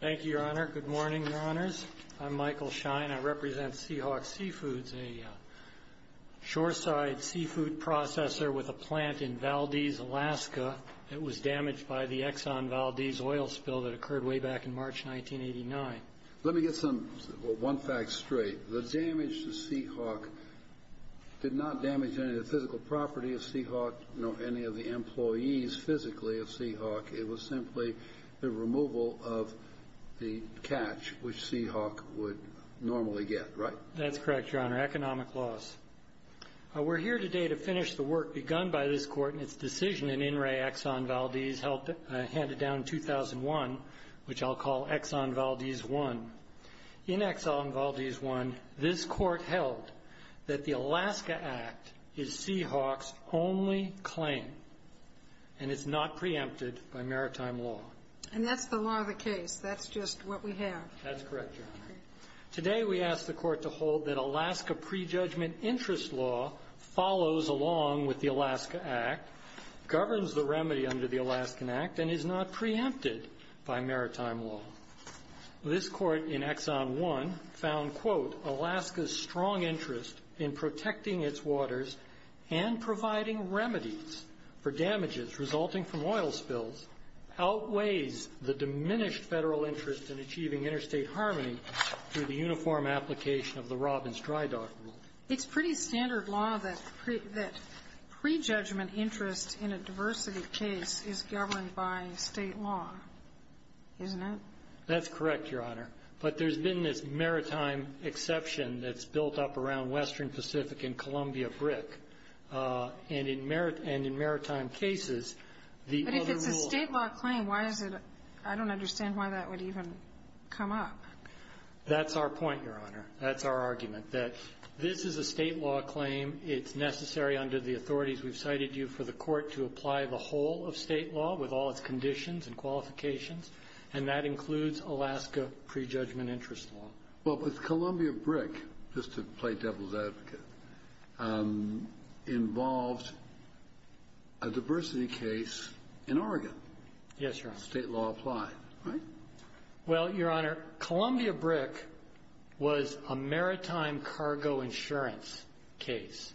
Thank you, Your Honor. Good morning, Your Honors. I'm Michael Schein. I represent Sea Hawk Seafoods, a shoreside seafood processor with a plant in Valdez, Alaska, that was damaged by the Exxon Valdez oil spill that occurred way back in March 1989. Let me get one fact straight. The damage to Sea Hawk did not damage any of the physical property of Sea Hawk, any of the employees physically of Sea Hawk. It was simply the removal of the catch, which Sea Hawk would normally get, right? That's correct, Your Honor. Economic loss. We're here today to finish the work begun by this Court in its decision in In re. Exxon Valdez, handed down in 2001, which I'll call Exxon Valdez I. In Exxon Valdez I, this Court held that the Alaska Act is Sea Hawk's only claim, and it's not preempted by maritime law. And that's the law of the case. That's just what we have. That's correct, Your Honor. Today, we ask the Court to hold that Alaska prejudgment interest law follows along with the Alaska Act, governs the remedy under the Alaskan Act, and is not preempted by maritime law. This Court in Exxon I found, quote, Alaska's strong interest in protecting its waters and providing remedies for damages resulting from oil spills outweighs the diminished Federal interest in achieving interstate harmony through the uniform application of the Robbins-Drydock rule. It's pretty standard law that prejudgment interest in a diversity case is governed by State law, isn't it? That's correct, Your Honor. But there's been this maritime exception that's built up around Western Pacific and Columbia Brick. And in maritime cases, the other rule But if it's a State law claim, why is it — I don't understand why that would even come up. That's our point, Your Honor. That's our argument, that this is a State law claim. It's necessary under the authorities we've cited you for the Court to apply the whole of State law with all its conditions and qualifications, and that includes Alaska prejudgment interest law. Well, but Columbia Brick, just to play devil's advocate, involved a diversity case in Oregon. Yes, Your Honor. State law applied, right? Well, Your Honor, Columbia Brick was a maritime cargo insurance case.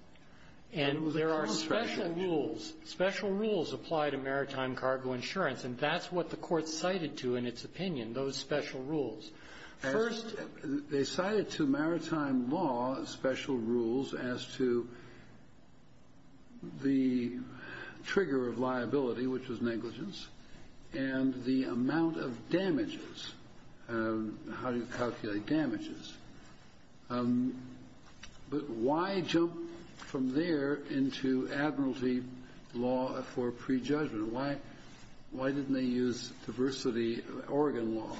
And there are special rules. Special rules apply to maritime cargo insurance. And that's what the Court cited to in its opinion, those special rules. First, they cited to maritime law special rules as to the trigger of liability, which was negligence, and the amount of damages, how you calculate damages. But why jump from there into admiralty law for prejudgment? Why didn't they use diversity Oregon law?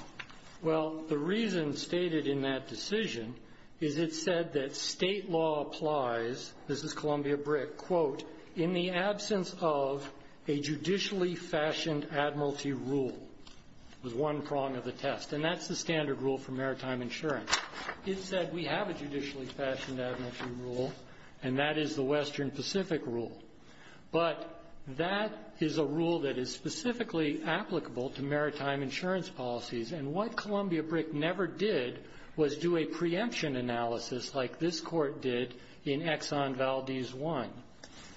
Well, the reason stated in that decision is it said that State law applies, this is Columbia Brick, quote, in the absence of a judicially fashioned admiralty rule was one prong of the test. And that's the standard rule for maritime insurance. It said we have a judicially fashioned admiralty rule, and that is the Western Pacific rule. But that is a rule that is specifically applicable to maritime insurance policies. And what Columbia Brick never did was do a preemption analysis like this court did in Exxon Valdez 1.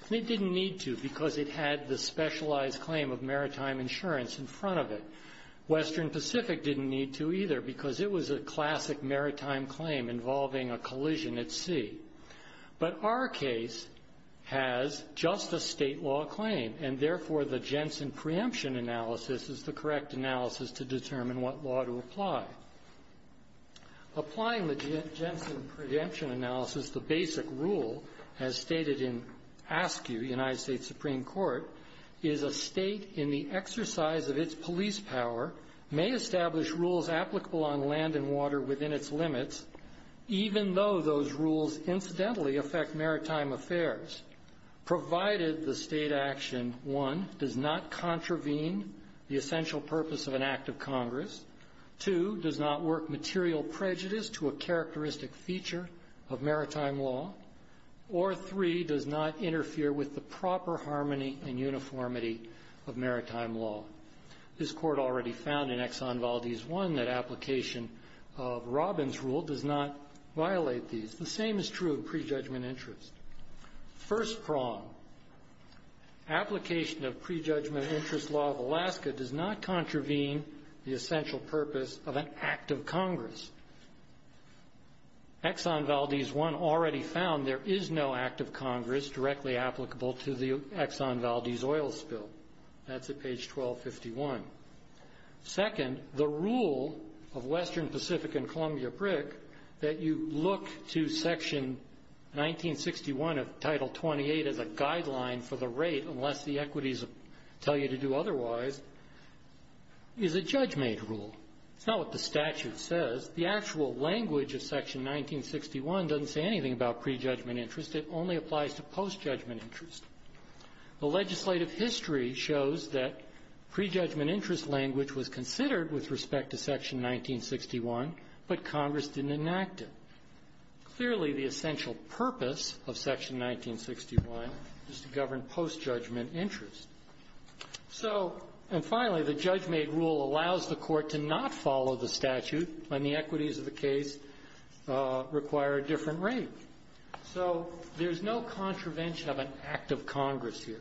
They didn't need to because it had the specialized claim of maritime insurance in front of it. Western Pacific didn't need to either because it was a classic maritime claim involving a collision at sea. But our case has just a State law claim. And therefore, the Jensen preemption analysis is the correct analysis to determine what law to apply. Applying the Jensen preemption analysis, the basic rule as stated in ASCU, United States Supreme Court, is a State in the exercise of its police power may establish rules applicable on land and water within its limits, even though those rules incidentally affect maritime affairs, provided the State action, one, does not contravene the essential purpose of an act of Congress. Two, does not work material prejudice to a characteristic feature of maritime law. Or three, does not interfere with the proper harmony and uniformity of maritime law. This court already found in Exxon Valdez 1 that application of Robbins rule does not violate these. The same is true of prejudgment interest. First prong, application of prejudgment interest law of Alaska does not contravene the essential purpose of an act of Congress. Exxon Valdez 1 already found there is no act of Congress directly applicable to the Exxon Valdez oil spill. That's at page 1251. Second, the rule of Western Pacific and Columbia Brick that you look to section 1961 of title 28 as a guideline for the rate, unless the equities tell you to do otherwise, is a judge-made rule. It's not what the statute says. The actual language of section 1961 doesn't say anything about prejudgment interest. It only applies to post-judgment interest. The legislative history shows that prejudgment interest language was considered with respect to section 1961, but Congress didn't enact it. Clearly, the essential purpose of section 1961 is to govern post-judgment interest. So, and finally, the judge-made rule allows the court to not follow the statute when the equities of the case require a different rate. So there's no contravention of an act of Congress here.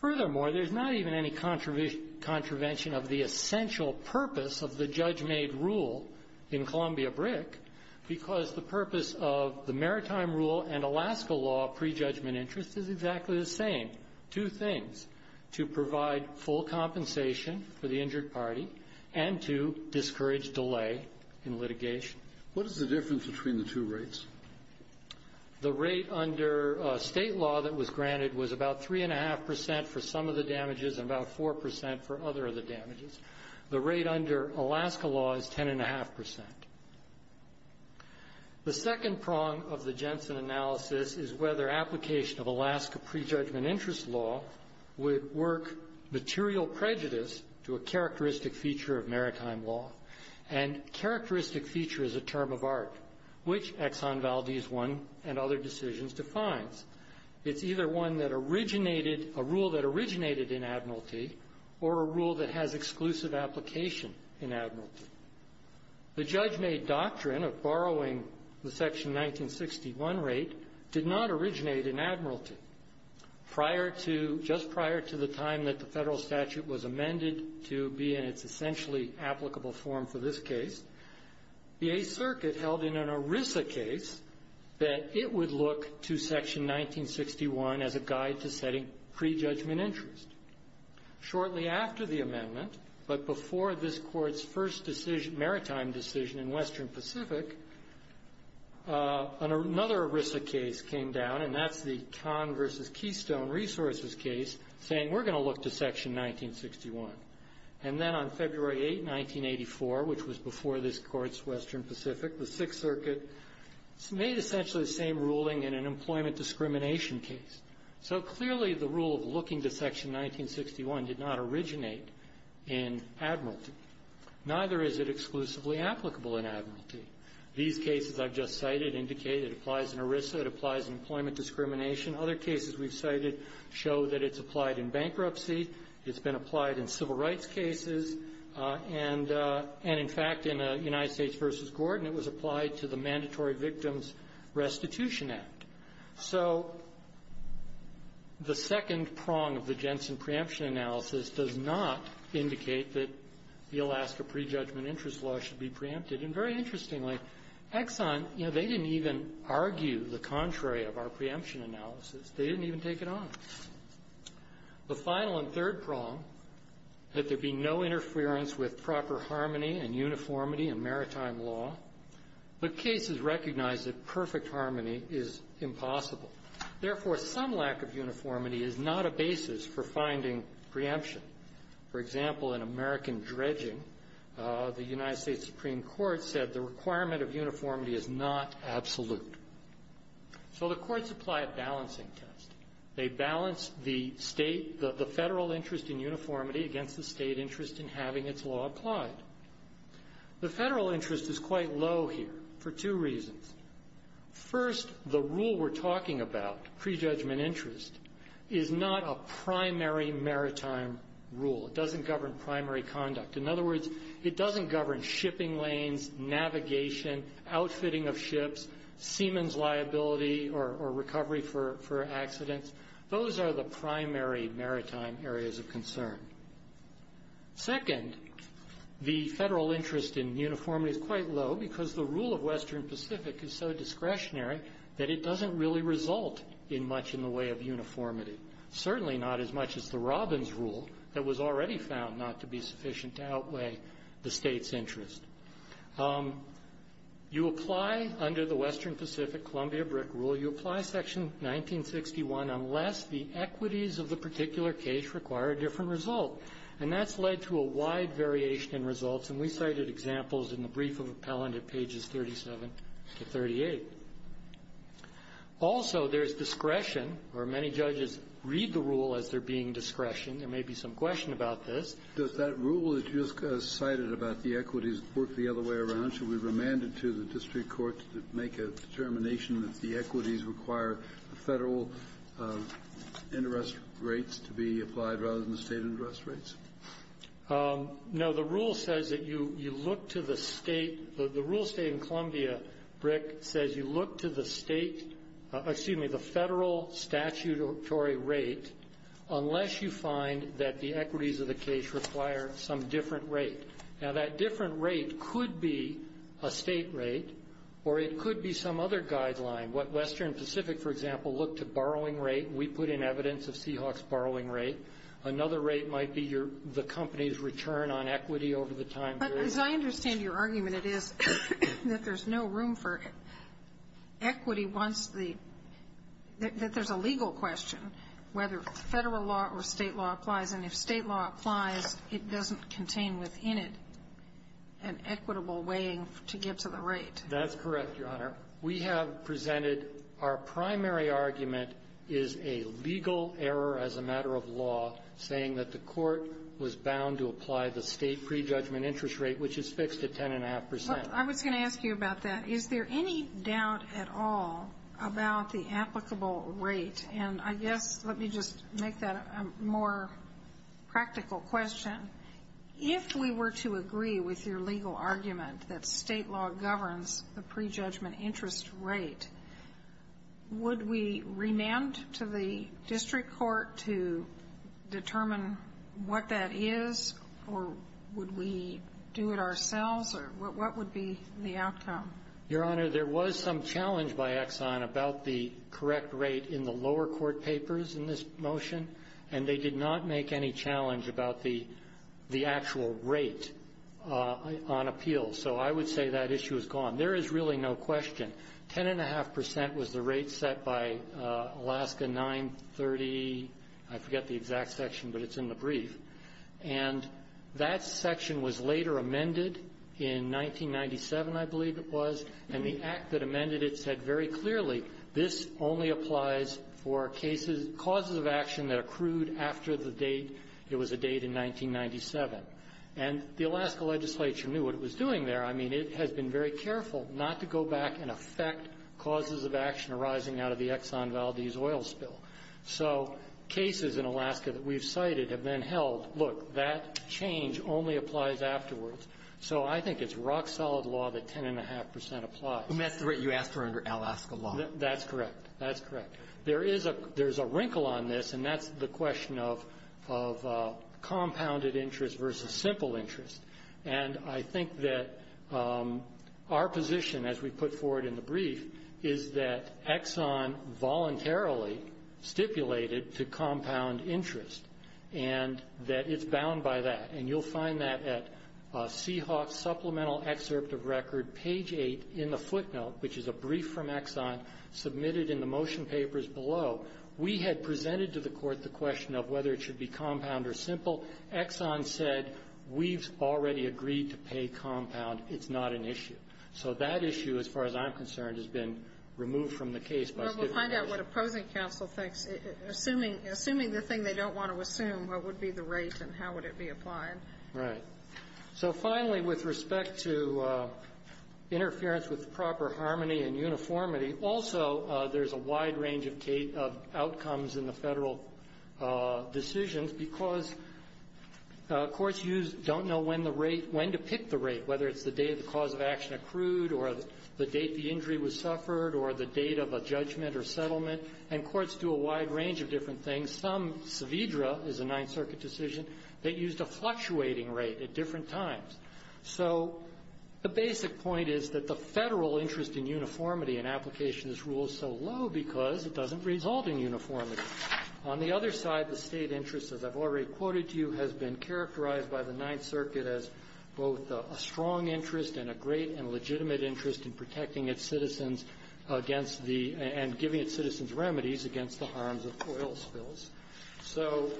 Furthermore, there's not even any contravention of the essential purpose of the judge-made rule in Columbia Brick because the purpose of the Maritime Rule and Alaska law of prejudgment interest is exactly the same. Two things, to provide full compensation for the injured party and to discourage delay in litigation. What is the difference between the two rates? The rate under state law that was granted was about 3.5% for some of the damages and about 4% for other of the damages. The rate under Alaska law is 10.5%. The second prong of the Jensen analysis is whether application of Alaska prejudgment interest law would work material prejudice to a characteristic feature of maritime law. And characteristic feature is a term of art, which Exxon Valdez I and other decisions defines. It's either one that originated, a rule that originated in admiralty, or a rule that has exclusive application in admiralty. The judge-made doctrine of borrowing the section 1961 rate did not originate in admiralty. Prior to, just prior to the time that the federal statute was amended to be in its essentially applicable form for this case, the Eighth Circuit held in an ERISA case that it would look to section 1961 as a guide to setting prejudgment interest. Shortly after the amendment, but before this court's first decision, maritime decision in Western Pacific, another ERISA case came down, and that's the Conn versus Keystone Resources case, saying we're going to look to section 1961. And then on February 8, 1984, which was before this court's Western Pacific, the Sixth Circuit made essentially the same ruling in an employment discrimination case. So clearly the rule of looking to section 1961 did not originate in admiralty. Neither is it exclusively applicable in admiralty. These cases I've just cited indicate it applies in ERISA, it applies in employment discrimination. Other cases we've cited show that it's applied in bankruptcy. It's been applied in civil rights cases. And in fact, in a United States versus Gordon, it was applied to the Mandatory Victims Restitution Act. So the second prong of the Jensen preemption analysis does not indicate that the Alaska Prejudgment Interest Law should be preempted. And very interestingly, Exxon, you know, they didn't even argue the contrary of our preemption analysis. They didn't even take it on. The final and third prong, that there be no interference with proper harmony and uniformity in maritime law, but cases recognize that perfect harmony is impossible. Therefore, some lack of uniformity is not a basis for finding preemption. For example, in American dredging, the United States Supreme Court said the requirement of uniformity is not absolute. So the courts apply a balancing test. They balance the state, the federal interest in uniformity against the state interest in having its law applied. The federal interest is quite low here for two reasons. First, the rule we're talking about, prejudgment interest, is not a primary maritime rule. It doesn't govern primary conduct. In other words, it doesn't govern shipping lanes, navigation, outfitting of ships, seamen's liability or recovery for accidents. Those are the primary maritime areas of concern. Second, the federal interest in uniformity is quite low because the rule of Western Pacific is so discretionary that it doesn't really result in much in the way of uniformity. Certainly not as much as the Robbins rule that was already found not to be sufficient to outweigh the state's interest. You apply under the Western Pacific Columbia BRIC rule, you apply Section 1961 unless the equities of the particular case require a different result. And that's led to a wide variation in results. And we cited examples in the brief of appellant at pages 37 to 38. Also, there's discretion, or many judges read the rule as there being discretion. There may be some question about this. Kennedy. Does that rule that you just cited about the equities work the other way around? Should we remand it to the district court to make a determination that the equities require federal interest rates to be applied rather than the state interest rates? No, the rule says that you look to the state, the rule state in Columbia BRIC says you look to the state, excuse me, the federal statutory rate unless you find that the equities of the case require some different rate. Now, that different rate could be a state rate or it could be some other guideline. What Western Pacific, for example, looked to borrowing rate, we put in evidence of Seahawks borrowing rate. Another rate might be the company's return on equity over the time period. But as I understand your argument, it is that there's no room for equity once the – that there's a legal question whether federal law or state law applies. And if state law applies, it doesn't contain within it an equitable weighing to give to the rate. That's correct, Your Honor. We have presented our primary argument is a legal error as a matter of law saying that the court was bound to apply the state prejudgment interest rate, which is fixed at 10.5%. I was going to ask you about that. Is there any doubt at all about the applicable rate? And I guess let me just make that a more practical question. If we were to agree with your legal argument that state law governs the prejudgment interest rate, would we remand to the district court to determine what that is, or would we do it ourselves, or what would be the outcome? Your Honor, there was some challenge by Exxon about the correct rate in the lower court papers in this motion, and they did not make any challenge about the actual rate on appeal. So I would say that issue is gone. There is really no question. 10.5% was the rate set by Alaska 930. I forget the exact section, but it's in the brief. And that section was later amended in 1997, I believe it was. And the act that amended it said very clearly, this only applies for cases, causes of action that accrued after the date. It was a date in 1997. And the Alaska legislature knew what it was doing there. I mean, it has been very careful not to go back and affect causes of action arising out of the Exxon Valdez oil spill. So cases in Alaska that we've cited have been held, look, that change only applies afterwards. So I think it's rock-solid law that 10.5% applies. And that's the rate you asked for under Alaska law. That's correct. That's correct. There is a wrinkle on this, and that's the question of compounded interest versus simple interest. And I think that our position, as we put forward in the brief, is that Exxon voluntarily stipulated to compound interest, and that it's bound by that. And you'll find that at Seahawks Supplemental Excerpt of Record, page 8 in the footnote, which is a brief from Exxon, submitted in the motion papers below. We had presented to the Court the question of whether it should be compound or simple. Exxon said, we've already agreed to pay compound. It's not an issue. So that issue, as far as I'm concerned, has been removed from the case by stipulation. Well, we'll find out what opposing counsel thinks. Assuming the thing they don't want to assume, what would be the rate and how would it be applied? Right. So finally, with respect to interference with proper harmony and uniformity, also there's a wide range of outcomes in the Federal decisions, because courts don't know when the rate, when to pick the rate, whether it's the date the cause of action accrued or the date the injury was suffered or the date of a judgment or settlement. And courts do a wide range of different things. Some, Saavedra is a Ninth Circuit decision that used a fluctuating rate at different times. So the basic point is that the Federal interest in uniformity in application is ruled so low because it doesn't result in uniformity. On the other side, the State interest, as I've already quoted to you, has been characterized by the Ninth Circuit against the and giving its citizens remedies against the harms of oil spills. So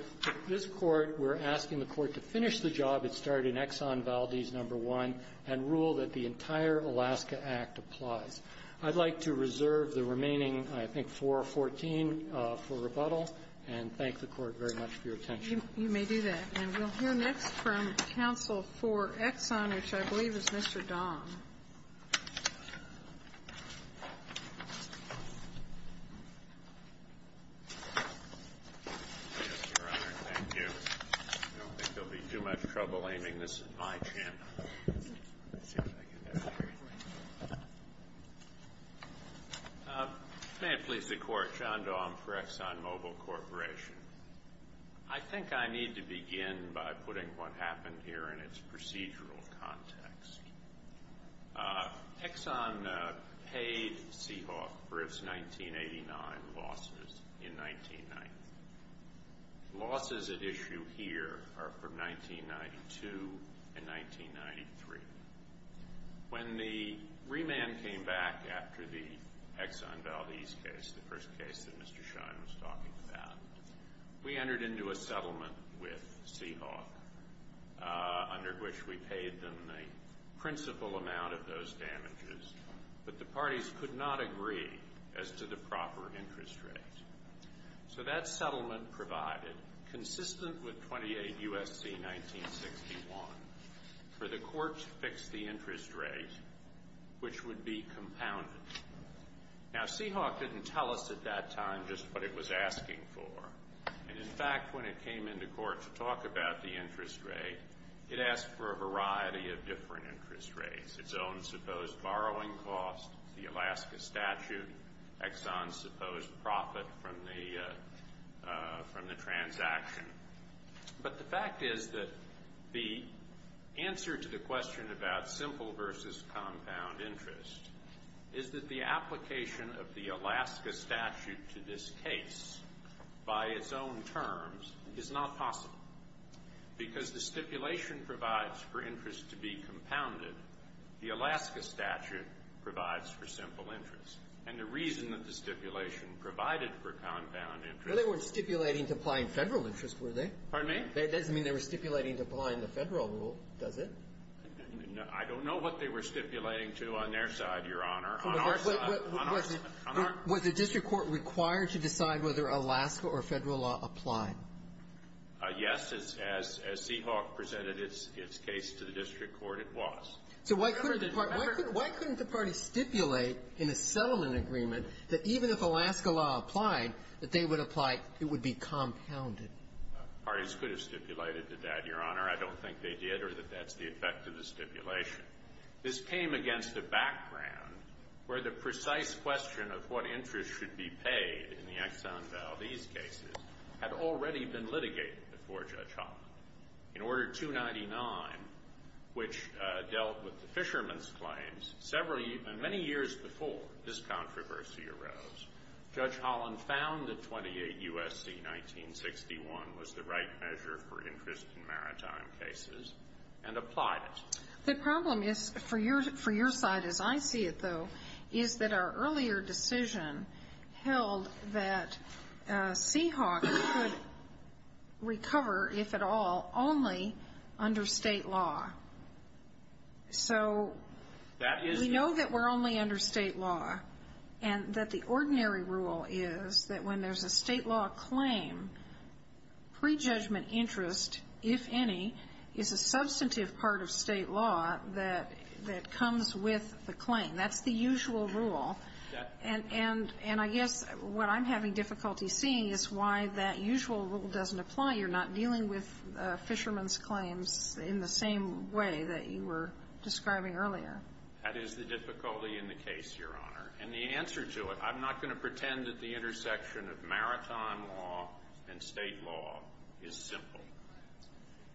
this Court, we're asking the Court to finish the job it started in Exxon Valdez No. 1 and rule that the entire Alaska Act applies. I'd like to reserve the remaining, I think, 414 for rebuttal and thank the Court very much for your attention. You may do that. And we'll hear next from counsel for Exxon, which I believe is Mr. John. Yes, Your Honor. Thank you. I don't think there will be too much trouble aiming this at my channel. May it please the Court, John Daum for ExxonMobil Corporation. I think I need to begin by putting what happened here in its procedural context. Exxon paid Seahawk for its 1989 losses in 1990. Losses at issue here are from 1992 and 1993. When the remand came back after the Exxon Valdez case, the first case that Mr. Daum referred to, we entered into a settlement with Seahawk under which we paid them the principal amount of those damages, but the parties could not agree as to the proper interest rate. So that settlement provided, consistent with 28 U.S.C. 1961, for the Court to fix the interest rate, which would be compounded. Now, Seahawk didn't tell us at that time just what it was asking for. And, in fact, when it came into court to talk about the interest rate, it asked for a variety of different interest rates, its own supposed borrowing cost, the Alaska statute, Exxon's supposed profit from the transaction. But the fact is that the answer to the question about simple versus compound interest is that the application of the Alaska statute to this case, by its own terms, is not possible. Because the stipulation provides for interest to be compounded, the Alaska statute provides for simple interest. And the reason that the stipulation provided for compound interest was that they weren't stipulating to apply in Federal interest, were they? Pardon me? That doesn't mean they were stipulating to apply in the Federal rule, does it? I don't know what they were stipulating to on their side, Your Honor. On our side. On our side. Was the district court required to decide whether Alaska or Federal law applied? Yes. As Seahawk presented its case to the district court, it was. So why couldn't the party stipulate in a settlement agreement that even if Alaska law applied, that they would apply, it would be compounded? Parties could have stipulated to that, Your Honor. I don't think they did or that that's the effect of the stipulation. This came against a background where the precise question of what interest should be paid in the Exxon Valdez cases had already been litigated before Judge Holland. In Order 299, which dealt with the fishermen's claims, several, many years before this controversy arose, Judge Holland found that 28 U.S.C. 1961 was the right measure for interest in maritime cases and applied it. The problem is, for your side as I see it, though, is that our earlier decision held that Seahawk could recover, if at all, only under State law. So we know that we're only under State law, and that the ordinary rule is that when there's a substantive part of State law that comes with the claim. That's the usual rule. And I guess what I'm having difficulty seeing is why that usual rule doesn't apply. You're not dealing with fishermen's claims in the same way that you were describing earlier. That is the difficulty in the case, Your Honor. And the answer to it, I'm not going to pretend that the intersection of maritime law and State law is simple.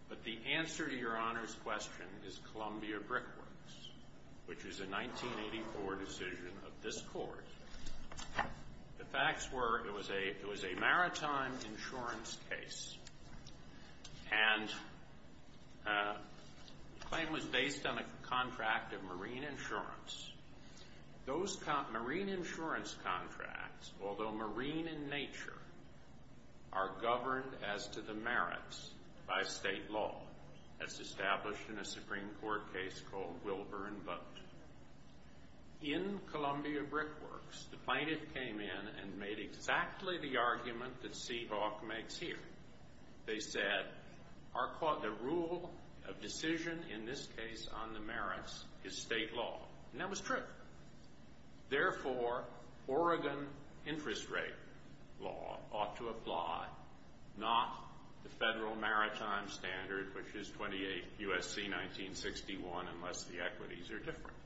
But the answer to Your Honor's question is Columbia Brickworks, which is a 1984 decision of this Court. The facts were it was a maritime insurance case, and the claim was marine in nature are governed as to the merits by State law, as established in a Supreme Court case called Wilburn Boat. In Columbia Brickworks, the plaintiff came in and made exactly the argument that Seahawk makes here. They said, the rule of decision in this case on the merits is true. Therefore, Oregon interest rate law ought to apply, not the federal maritime standard, which is 28 U.S.C. 1961, unless the equities are different.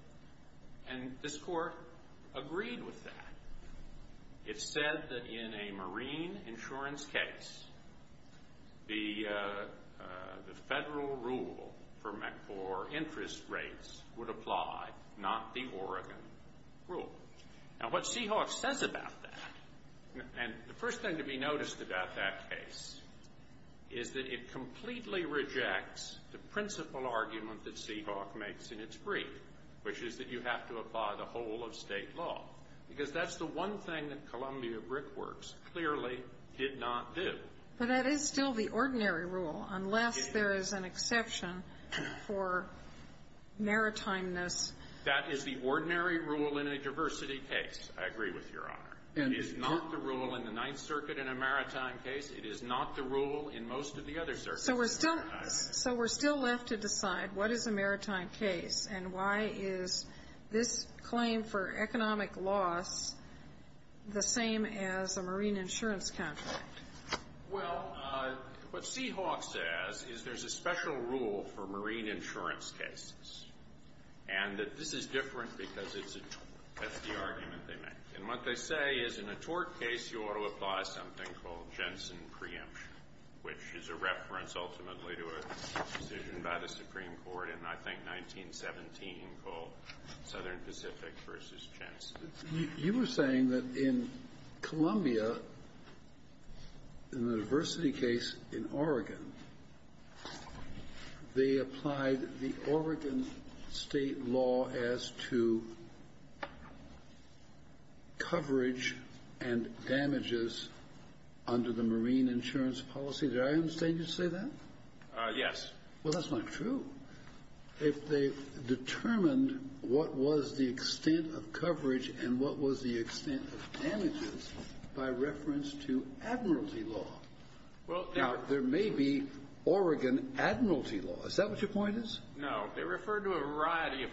And this Court agreed with that. It said that in a marine insurance case, the Oregon rule. Now, what Seahawk says about that, and the first thing to be noticed about that case, is that it completely rejects the principal argument that Seahawk makes in its brief, which is that you have to apply the whole of State law, because that's the one thing that Columbia Brickworks clearly did not do. But that is still the ordinary rule, unless there is an exception for maritimeness. That is the ordinary rule in a diversity case, I agree with Your Honor. It is not the rule in the Ninth Circuit in a maritime case. It is not the rule in most of the other circuits. So we're still left to decide what is a maritime case, and why is this claim for Well, what Seahawk says is there's a special rule for marine insurance cases, and that this is different because that's the argument they make. And what they say is in a tort case, you ought to apply something called Jensen preemption, which is a reference ultimately to a decision by the Supreme Court in, I think, 1917 called Southern Pacific v. Jensen. You were saying that in Columbia, in the diversity case in Oregon, they applied the Oregon State law as to coverage and damages under the marine insurance policy. Did I understand you to say that? Yes. Well, that's not true. If they determined what was the extent of coverage and what was the extent of damages by reference to admiralty law. Now, there may be Oregon admiralty law. Is that what your point is? No. They referred to a variety of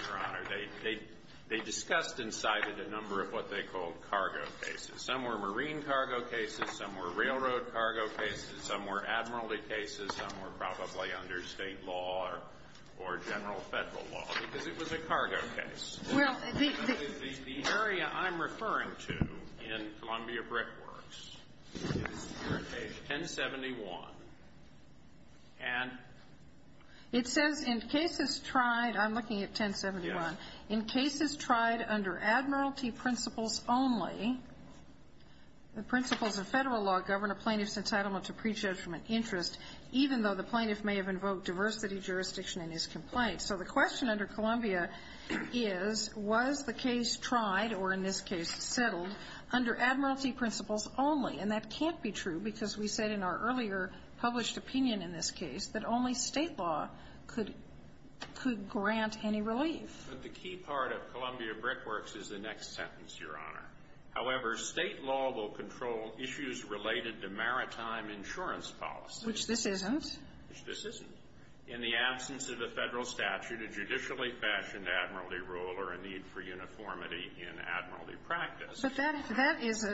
cargo cases. They discussed and cited a number of what they called cargo cases. Some were marine cargo cases. Some were railroad cargo cases. Some were admiralty cases. Some were probably under State law or general Federal law, because it was a cargo case. Well, the The area I'm referring to in Columbia Brickworks is here at page 1071. And It says in cases tried, I'm looking at 1071, in cases tried under admiralty principles only, the principles of Federal law govern a plaintiff's entitlement to prejudgment interest, even though the plaintiff may have invoked diversity jurisdiction in his complaint. So the question under Columbia is, was the case tried or, in this case, settled under admiralty principles only? And that can't be true because we said in our earlier published opinion in this case that only State law could grant any relief. But the key part of Columbia Brickworks is the next sentence, Your Honor. However, State law will control issues related to maritime insurance policy. Which this isn't. Which this isn't. In the absence of a Federal statute, a judicially fashioned admiralty rule or a need for uniformity in admiralty practice. But that is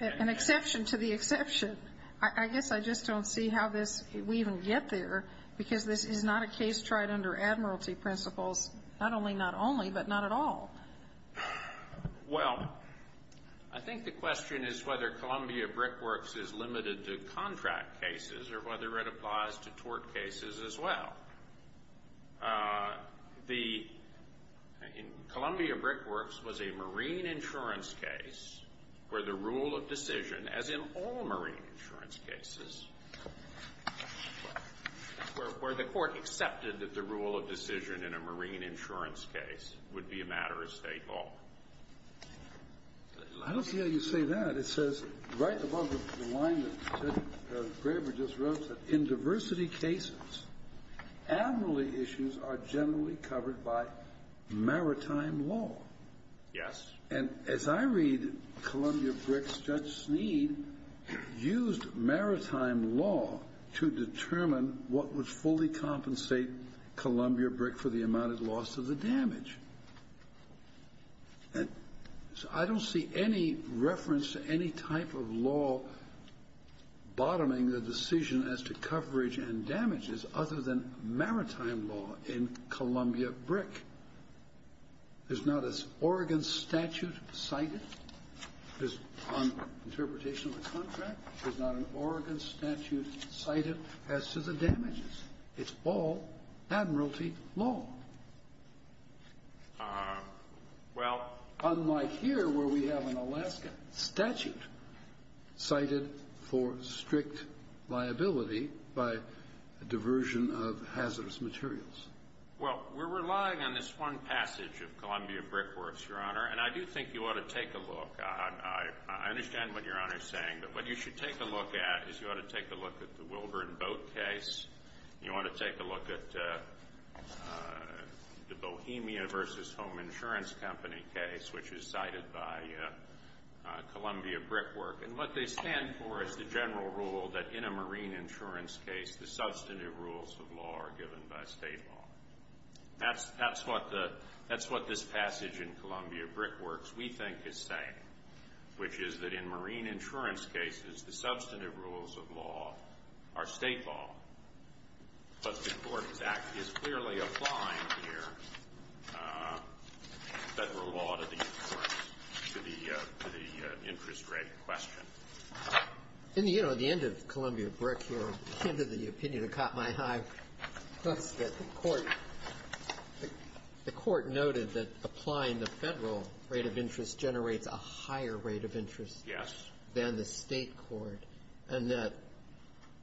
an exception to the exception. I guess I just don't see how this, we even get there, because this is not a case tried under admiralty principles, not only not only, but not at all. Well, I think the question is whether Columbia Brickworks is limited to contract cases or whether it applies to tort cases as well. The, in Columbia Brickworks was a marine insurance case where the rule of decision, as in all marine insurance cases, where the court accepted that the rule of decision in a marine insurance case would be a matter of State law. I don't see how you say that. It says right above the line that Judge Graber just wrote that in diversity cases, admiralty issues are generally covered by maritime law. Yes. And as I read Columbia Brickworks, Judge Sneed used maritime law to determine what would fully compensate Columbia Brick for the amount of loss of the damage. And so I don't see any reference to any type of law bottoming the decision as to Oregon statute cited on interpretation of the contract. There's not an Oregon statute cited as to the damages. It's all admiralty law. Well. Unlike here, where we have an Alaska statute cited for strict liability by diversion of hazardous materials. Well, we're relying on this one passage of Columbia Brickworks, Your Honor. And I do think you ought to take a look. I understand what Your Honor is saying, but what you should take a look at is you ought to take a look at the Wilbur and Boat case. You ought to take a look at the Bohemia versus Home Insurance Company case, which is cited by Columbia Brickwork. And what they stand for is the general rule that in a marine insurance case, the substantive rules of law are given by state law. That's what this passage in Columbia Brickworks, we think, is saying, which is that in marine insurance cases, the substantive rules of law are state law. But the Court's Act is clearly applying here federal law to the interest rate question. And, you know, at the end of Columbia Brick, Your Honor, the opinion that caught my eye was that the Court noted that applying the federal rate of interest generates a higher rate of interest than the state court, and that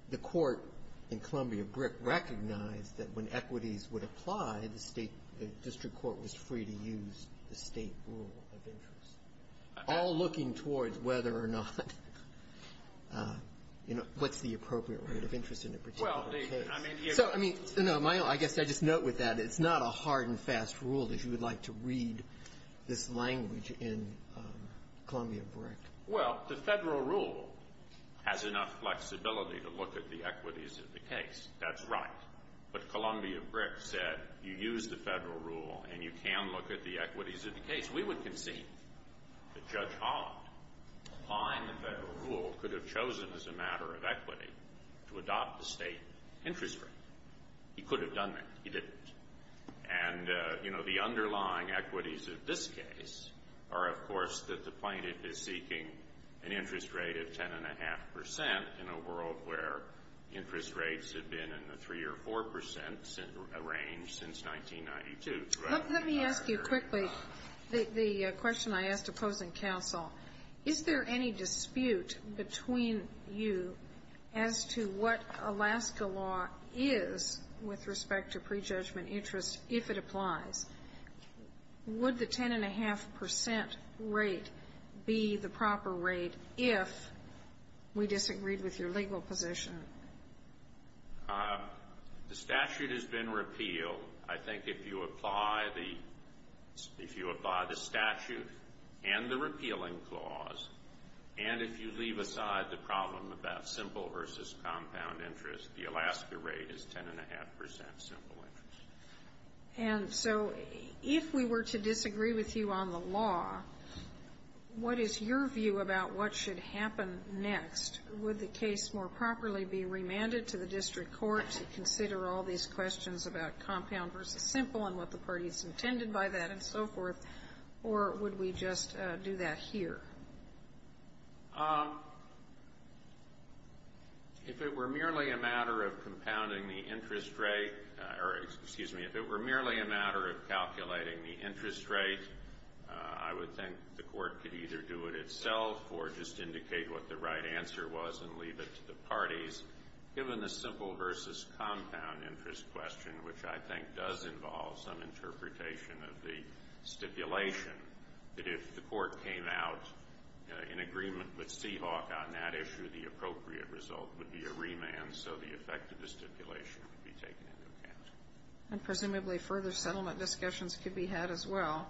the court in Columbia Brick recognized that when equities would apply, the state district court was free to use the state rule of interest, all looking towards whether or not, you know, what's the appropriate rate of interest in a particular case. So, I mean, no, I guess I just note with that, it's not a hard and fast rule that you would like to read this language in Columbia Brick. Well, the federal rule has enough flexibility to look at the equities of the case. That's right. But Columbia Brick said you use the federal rule and you can look at the equities of the case. We would concede that Judge Holland, applying the federal rule, could have chosen as a matter of equity to adopt the state interest rate. He could have done that. He didn't. And, you know, the underlying equities of this case are, of course, that the plaintiff is seeking an interest rate of 10.5 percent in a world where interest rates have been in the 3 or 4 percent range since 1992. Let me ask you quickly the question I asked opposing counsel. Is there any dispute between you as to what Alaska law is with respect to prejudgment interest, if it applies? Would the 10.5 percent rate be the proper rate if we disagreed with your legal position? The statute has been repealed. I think if you apply the statute and the repealing clause, and if you leave aside the problem about simple versus compound interest, the Alaska rate is 10.5 percent simple interest. And so if we were to disagree with you on the law, what is your view about what should happen next? Would the case more properly be remanded to the district court to consider all these questions about compound versus simple and what the parties intended by that and so forth, or would we just do that here? If it were merely a matter of compounding the interest rate, or, excuse me, if it were merely a matter of calculating the interest rate, I would think the court could either do it itself or just indicate what the right answer was and leave it to the parties. Given the simple versus compound interest question, which I think does involve some interpretation of the stipulation, that if the court came out in agreement with Seahawk on that issue, the appropriate result would be a remand, so the effect of the stipulation would be taken into account. And presumably further settlement discussions could be had as well.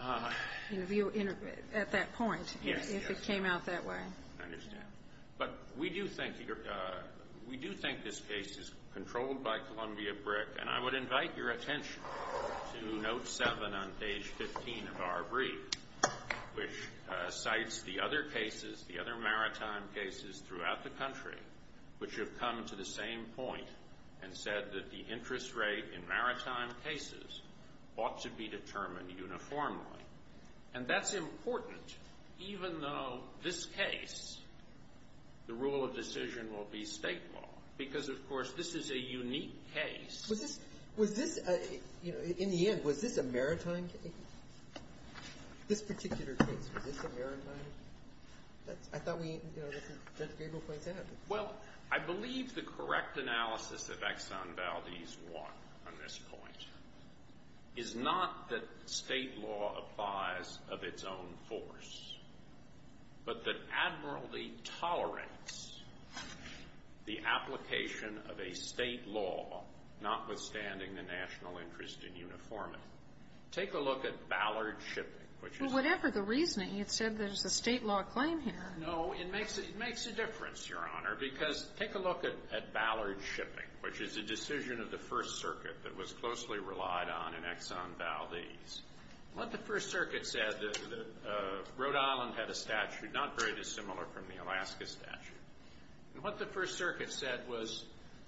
At that point. Yes. If it came out that way. I understand. But we do think this case is controlled by Columbia Brick, and I would invite your attention to note seven on page 15 of our brief, which cites the other cases, the other maritime cases throughout the country, which have come to the same point and said that the interest rate in maritime cases ought to be determined uniformly. And that's important, even though this case, the rule of decision will be state law. Because, of course, this is a unique case. Was this, you know, in the end, was this a maritime case? This particular case, was this a maritime case? I thought we, you know, Judge Gabel points out. Well, I believe the correct analysis of Exxon Valdez won on this point. Is not that state law applies of its own force, but that admiralty tolerates the application of a state law, notwithstanding the national interest in uniformity. Take a look at Ballard Shipping. Well, whatever the reasoning, it said there's a state law claim here. No, it makes a difference, Your Honor, because take a look at Ballard Shipping, which is a decision of the First Circuit that was closely relied on in Exxon Valdez. What the First Circuit said, Rhode Island had a statute, not very dissimilar from the Alaska statute. And what the First Circuit said was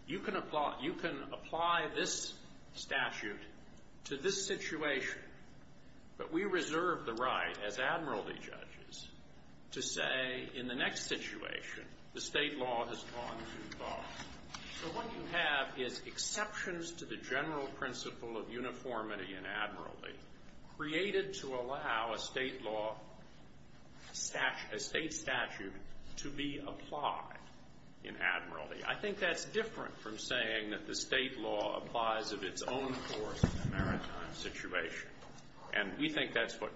you can apply this statute to this situation, but we reserve the right as admiralty judges to say in the next situation, the state law has gone too far. So what you have is exceptions to the general principle of uniformity and admiralty created to allow a state law statute, a state statute to be applied in admiralty. I think that's different from saying that the state law applies of its own force in a maritime situation. And we think that's what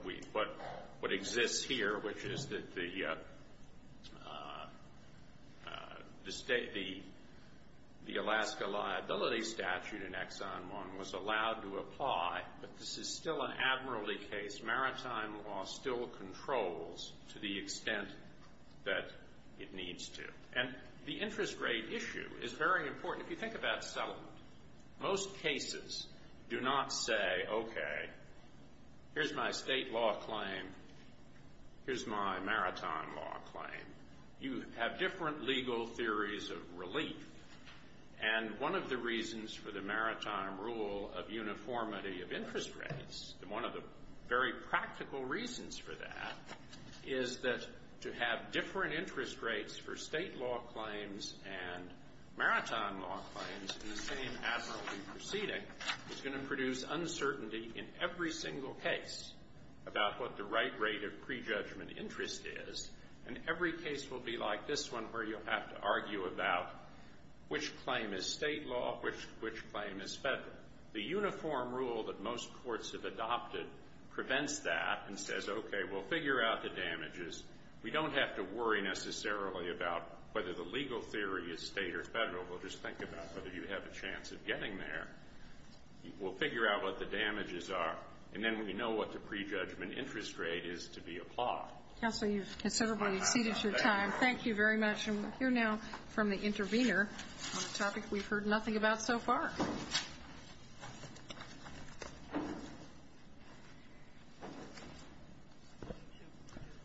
exists here, which is that the Alaska liability statute in Exxon 1 was allowed to apply, but this is still an admiralty case. Maritime law still controls to the extent that it needs to. And the interest rate issue is very important. If you think about settlement, most cases do not say, okay, here's my state law claim, here's my maritime law claim. You have different legal theories of relief. And one of the reasons for the maritime rule of uniformity of interest rates, and one of the very practical reasons for that, is that to have different interest rates for state law claims and maritime law claims in the same admiralty proceeding is going to produce uncertainty in every single case about what the right rate of prejudgment interest is. And every case will be like this one where you'll have to argue about which claim is state law, which claim is federal. The uniform rule that most courts have adopted prevents that and says, okay, we'll figure out the damages. We don't have to worry necessarily about whether the legal theory is state or federal. We'll just think about whether you have a chance of getting there. We'll figure out what the damages are, and then we know what the prejudgment interest rate is to be applied. Counsel, you've considerably exceeded your time. Thank you very much. And we'll hear now from the intervener on a topic we've heard nothing about so far.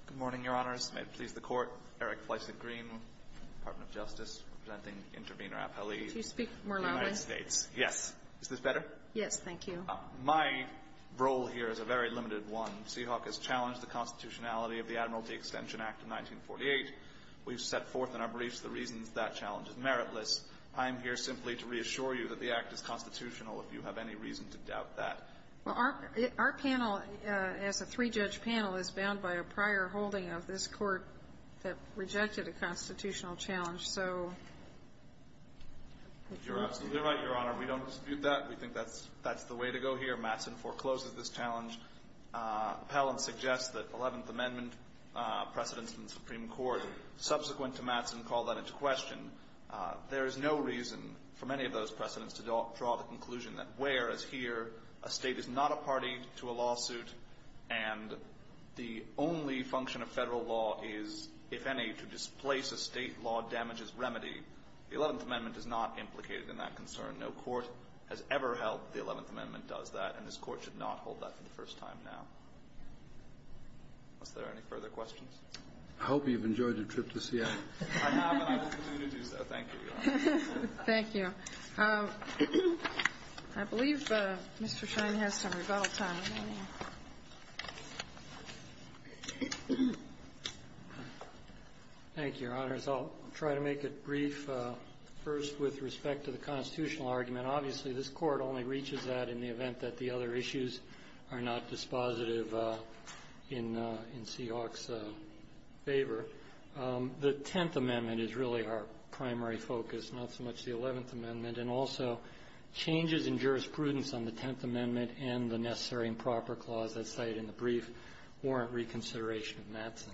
Good morning, Your Honors. May it please the Court. Eric Fleisig-Green, Department of Justice, presenting intervener appellee. Could you speak more loudly? United States. Yes. Is this better? Yes, thank you. My role here is a very limited one. Seahawk has challenged the constitutionality of the Admiralty Extension Act of 1948. We've set forth in our briefs the reasons that challenge is meritless. I am here simply to reassure you that the Act is constitutional, if you have any reason to doubt that. Well, our panel, as a three-judge panel, is bound by a prior holding of this Court that rejected a constitutional challenge. So if you want to speak. You're absolutely right, Your Honor. We don't dispute that. We think that's the way to go here. Mattson forecloses this challenge. Appellant suggests that Eleventh Amendment precedents in the Supreme Court subsequent to Mattson call that into question. There is no reason for many of those precedents to draw the conclusion that where, as here, a state is not a party to a lawsuit and the only function of federal law is, if any, to displace a state law damages remedy. The Eleventh Amendment is not implicated in that concern. No court has ever held that the Eleventh Amendment does that, and this Court should not hold that for the first time now. Unless there are any further questions. I hope you've enjoyed your trip to Seattle. I have, and I will continue to do so. Thank you, Your Honor. Thank you. I believe Mr. Schein has some rebuttal time remaining. Thank you, Your Honors. I'll try to make it brief. First, with respect to the constitutional argument, obviously this Court only reaches that in the event that the other issues are not dispositive in C. Hawke's favor. The Tenth Amendment is really our primary focus, not so much the Eleventh Amendment, and also changes in jurisprudence on the Tenth Amendment and the necessary and proper clause that's cited in the brief warrant reconsideration of Mattson.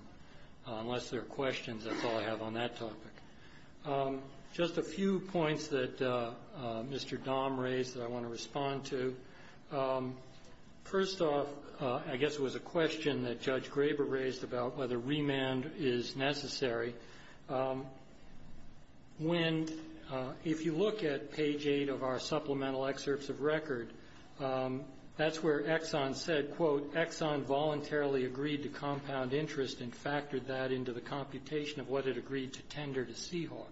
Unless there are questions, that's all I have on that topic. Just a few points that Mr. Dahm raised that I want to respond to. First off, I guess it was a question that Judge Graber raised about whether remand is necessary. When you look at page 8 of our supplemental excerpts of record, that's where Exxon said, quote, Exxon voluntarily agreed to compound interest and factored that into the computation of what it agreed to tender to C. Hawke.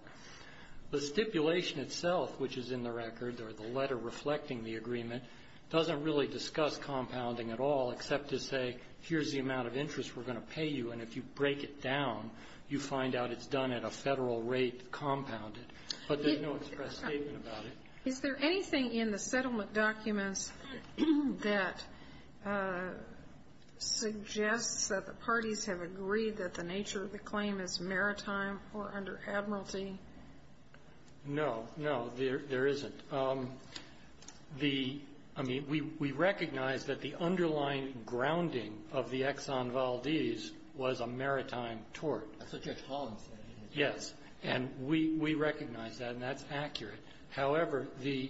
The stipulation itself, which is in the record, or the letter reflecting the agreement, doesn't really discuss compounding at all except to say, here's the amount of interest we're going to pay you, and if you break it down, you find out it's done at a Federal rate compounded. But there's no express statement about it. Is there anything in the settlement documents that suggests that the parties have agreed that the nature of the claim is maritime or under admiralty? No. No, there isn't. The – I mean, we recognize that the underlying grounding of the Exxon Valdez was a maritime tort. That's what Judge Holland said. Yes. And we recognize that, and that's accurate. However, the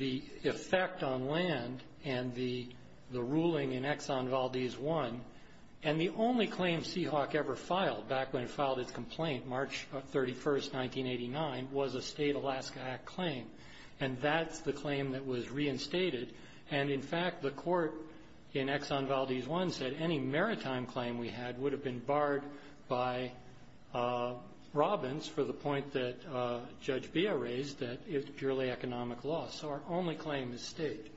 effect on land and the ruling in Exxon Valdez I, and the only claim C. Hawke ever filed, back when it filed its complaint, March 31st, 1989, was a state Alaska Act claim. And that's the claim that was reinstated. And, in fact, the court in Exxon Valdez I said any maritime claim we had would have been barred by Robbins for the point that Judge Beha raised, that it's purely economic law. So our only claim is state.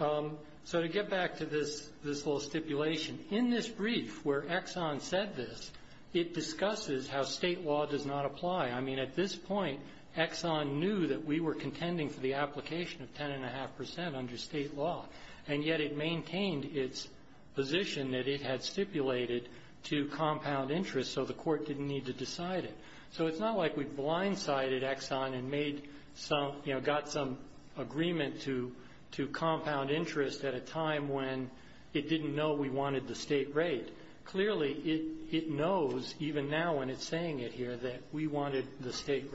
So to get back to this little stipulation, in this brief where Exxon said this, it discusses how state law does not apply. I mean, at this point, Exxon knew that we were contending for the application of 10.5 percent under state law. And yet it maintained its position that it had stipulated to compound interest so the court didn't need to decide it. So it's not like we blindsided Exxon and made some, you know, got some agreement to compound interest at a time when it didn't know we wanted the state rate. Clearly, it knows, even now when it's saying it here, that we wanted the state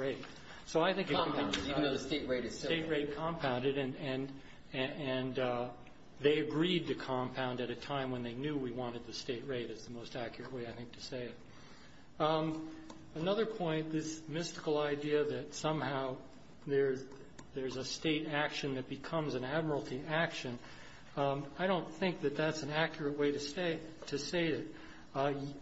So I think it's important. compounded, and they agreed to compound at a time when they knew we wanted the state rate is the most accurate way, I think, to say it. Another point, this mystical idea that somehow there's a state action that becomes an admiralty action, I don't think that that's an accurate way to state it.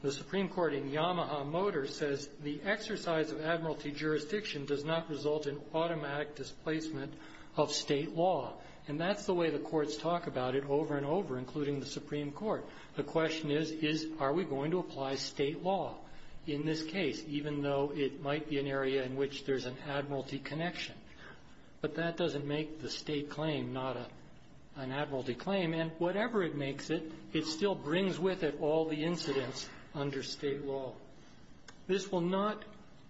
The Supreme Court in Yamaha Motors says the exercise of admiralty jurisdiction does not result in automatic displacement of state law. And that's the way the courts talk about it over and over, including the Supreme Court. The question is, are we going to apply state law in this case, even though it might be an area in which there's an admiralty connection? But that doesn't make the state claim not an admiralty claim. And whatever it makes it, it still brings with it all the incidents under state law. This will not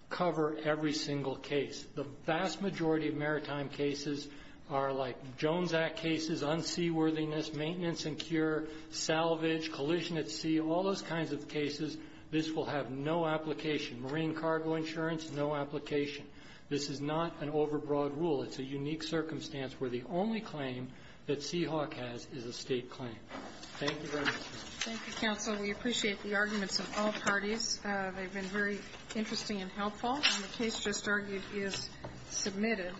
cover every single case. The vast majority of maritime cases are like Jones Act cases, unseaworthiness, maintenance and cure, salvage, collision at sea, all those kinds of cases. This will have no application. Marine cargo insurance, no application. This is not an overbroad rule. It's a unique circumstance where the only claim that Seahawk has is a state claim. Thank you very much. Thank you, counsel. We appreciate the arguments of all parties. They've been very interesting and helpful. And the case just argued is submitted.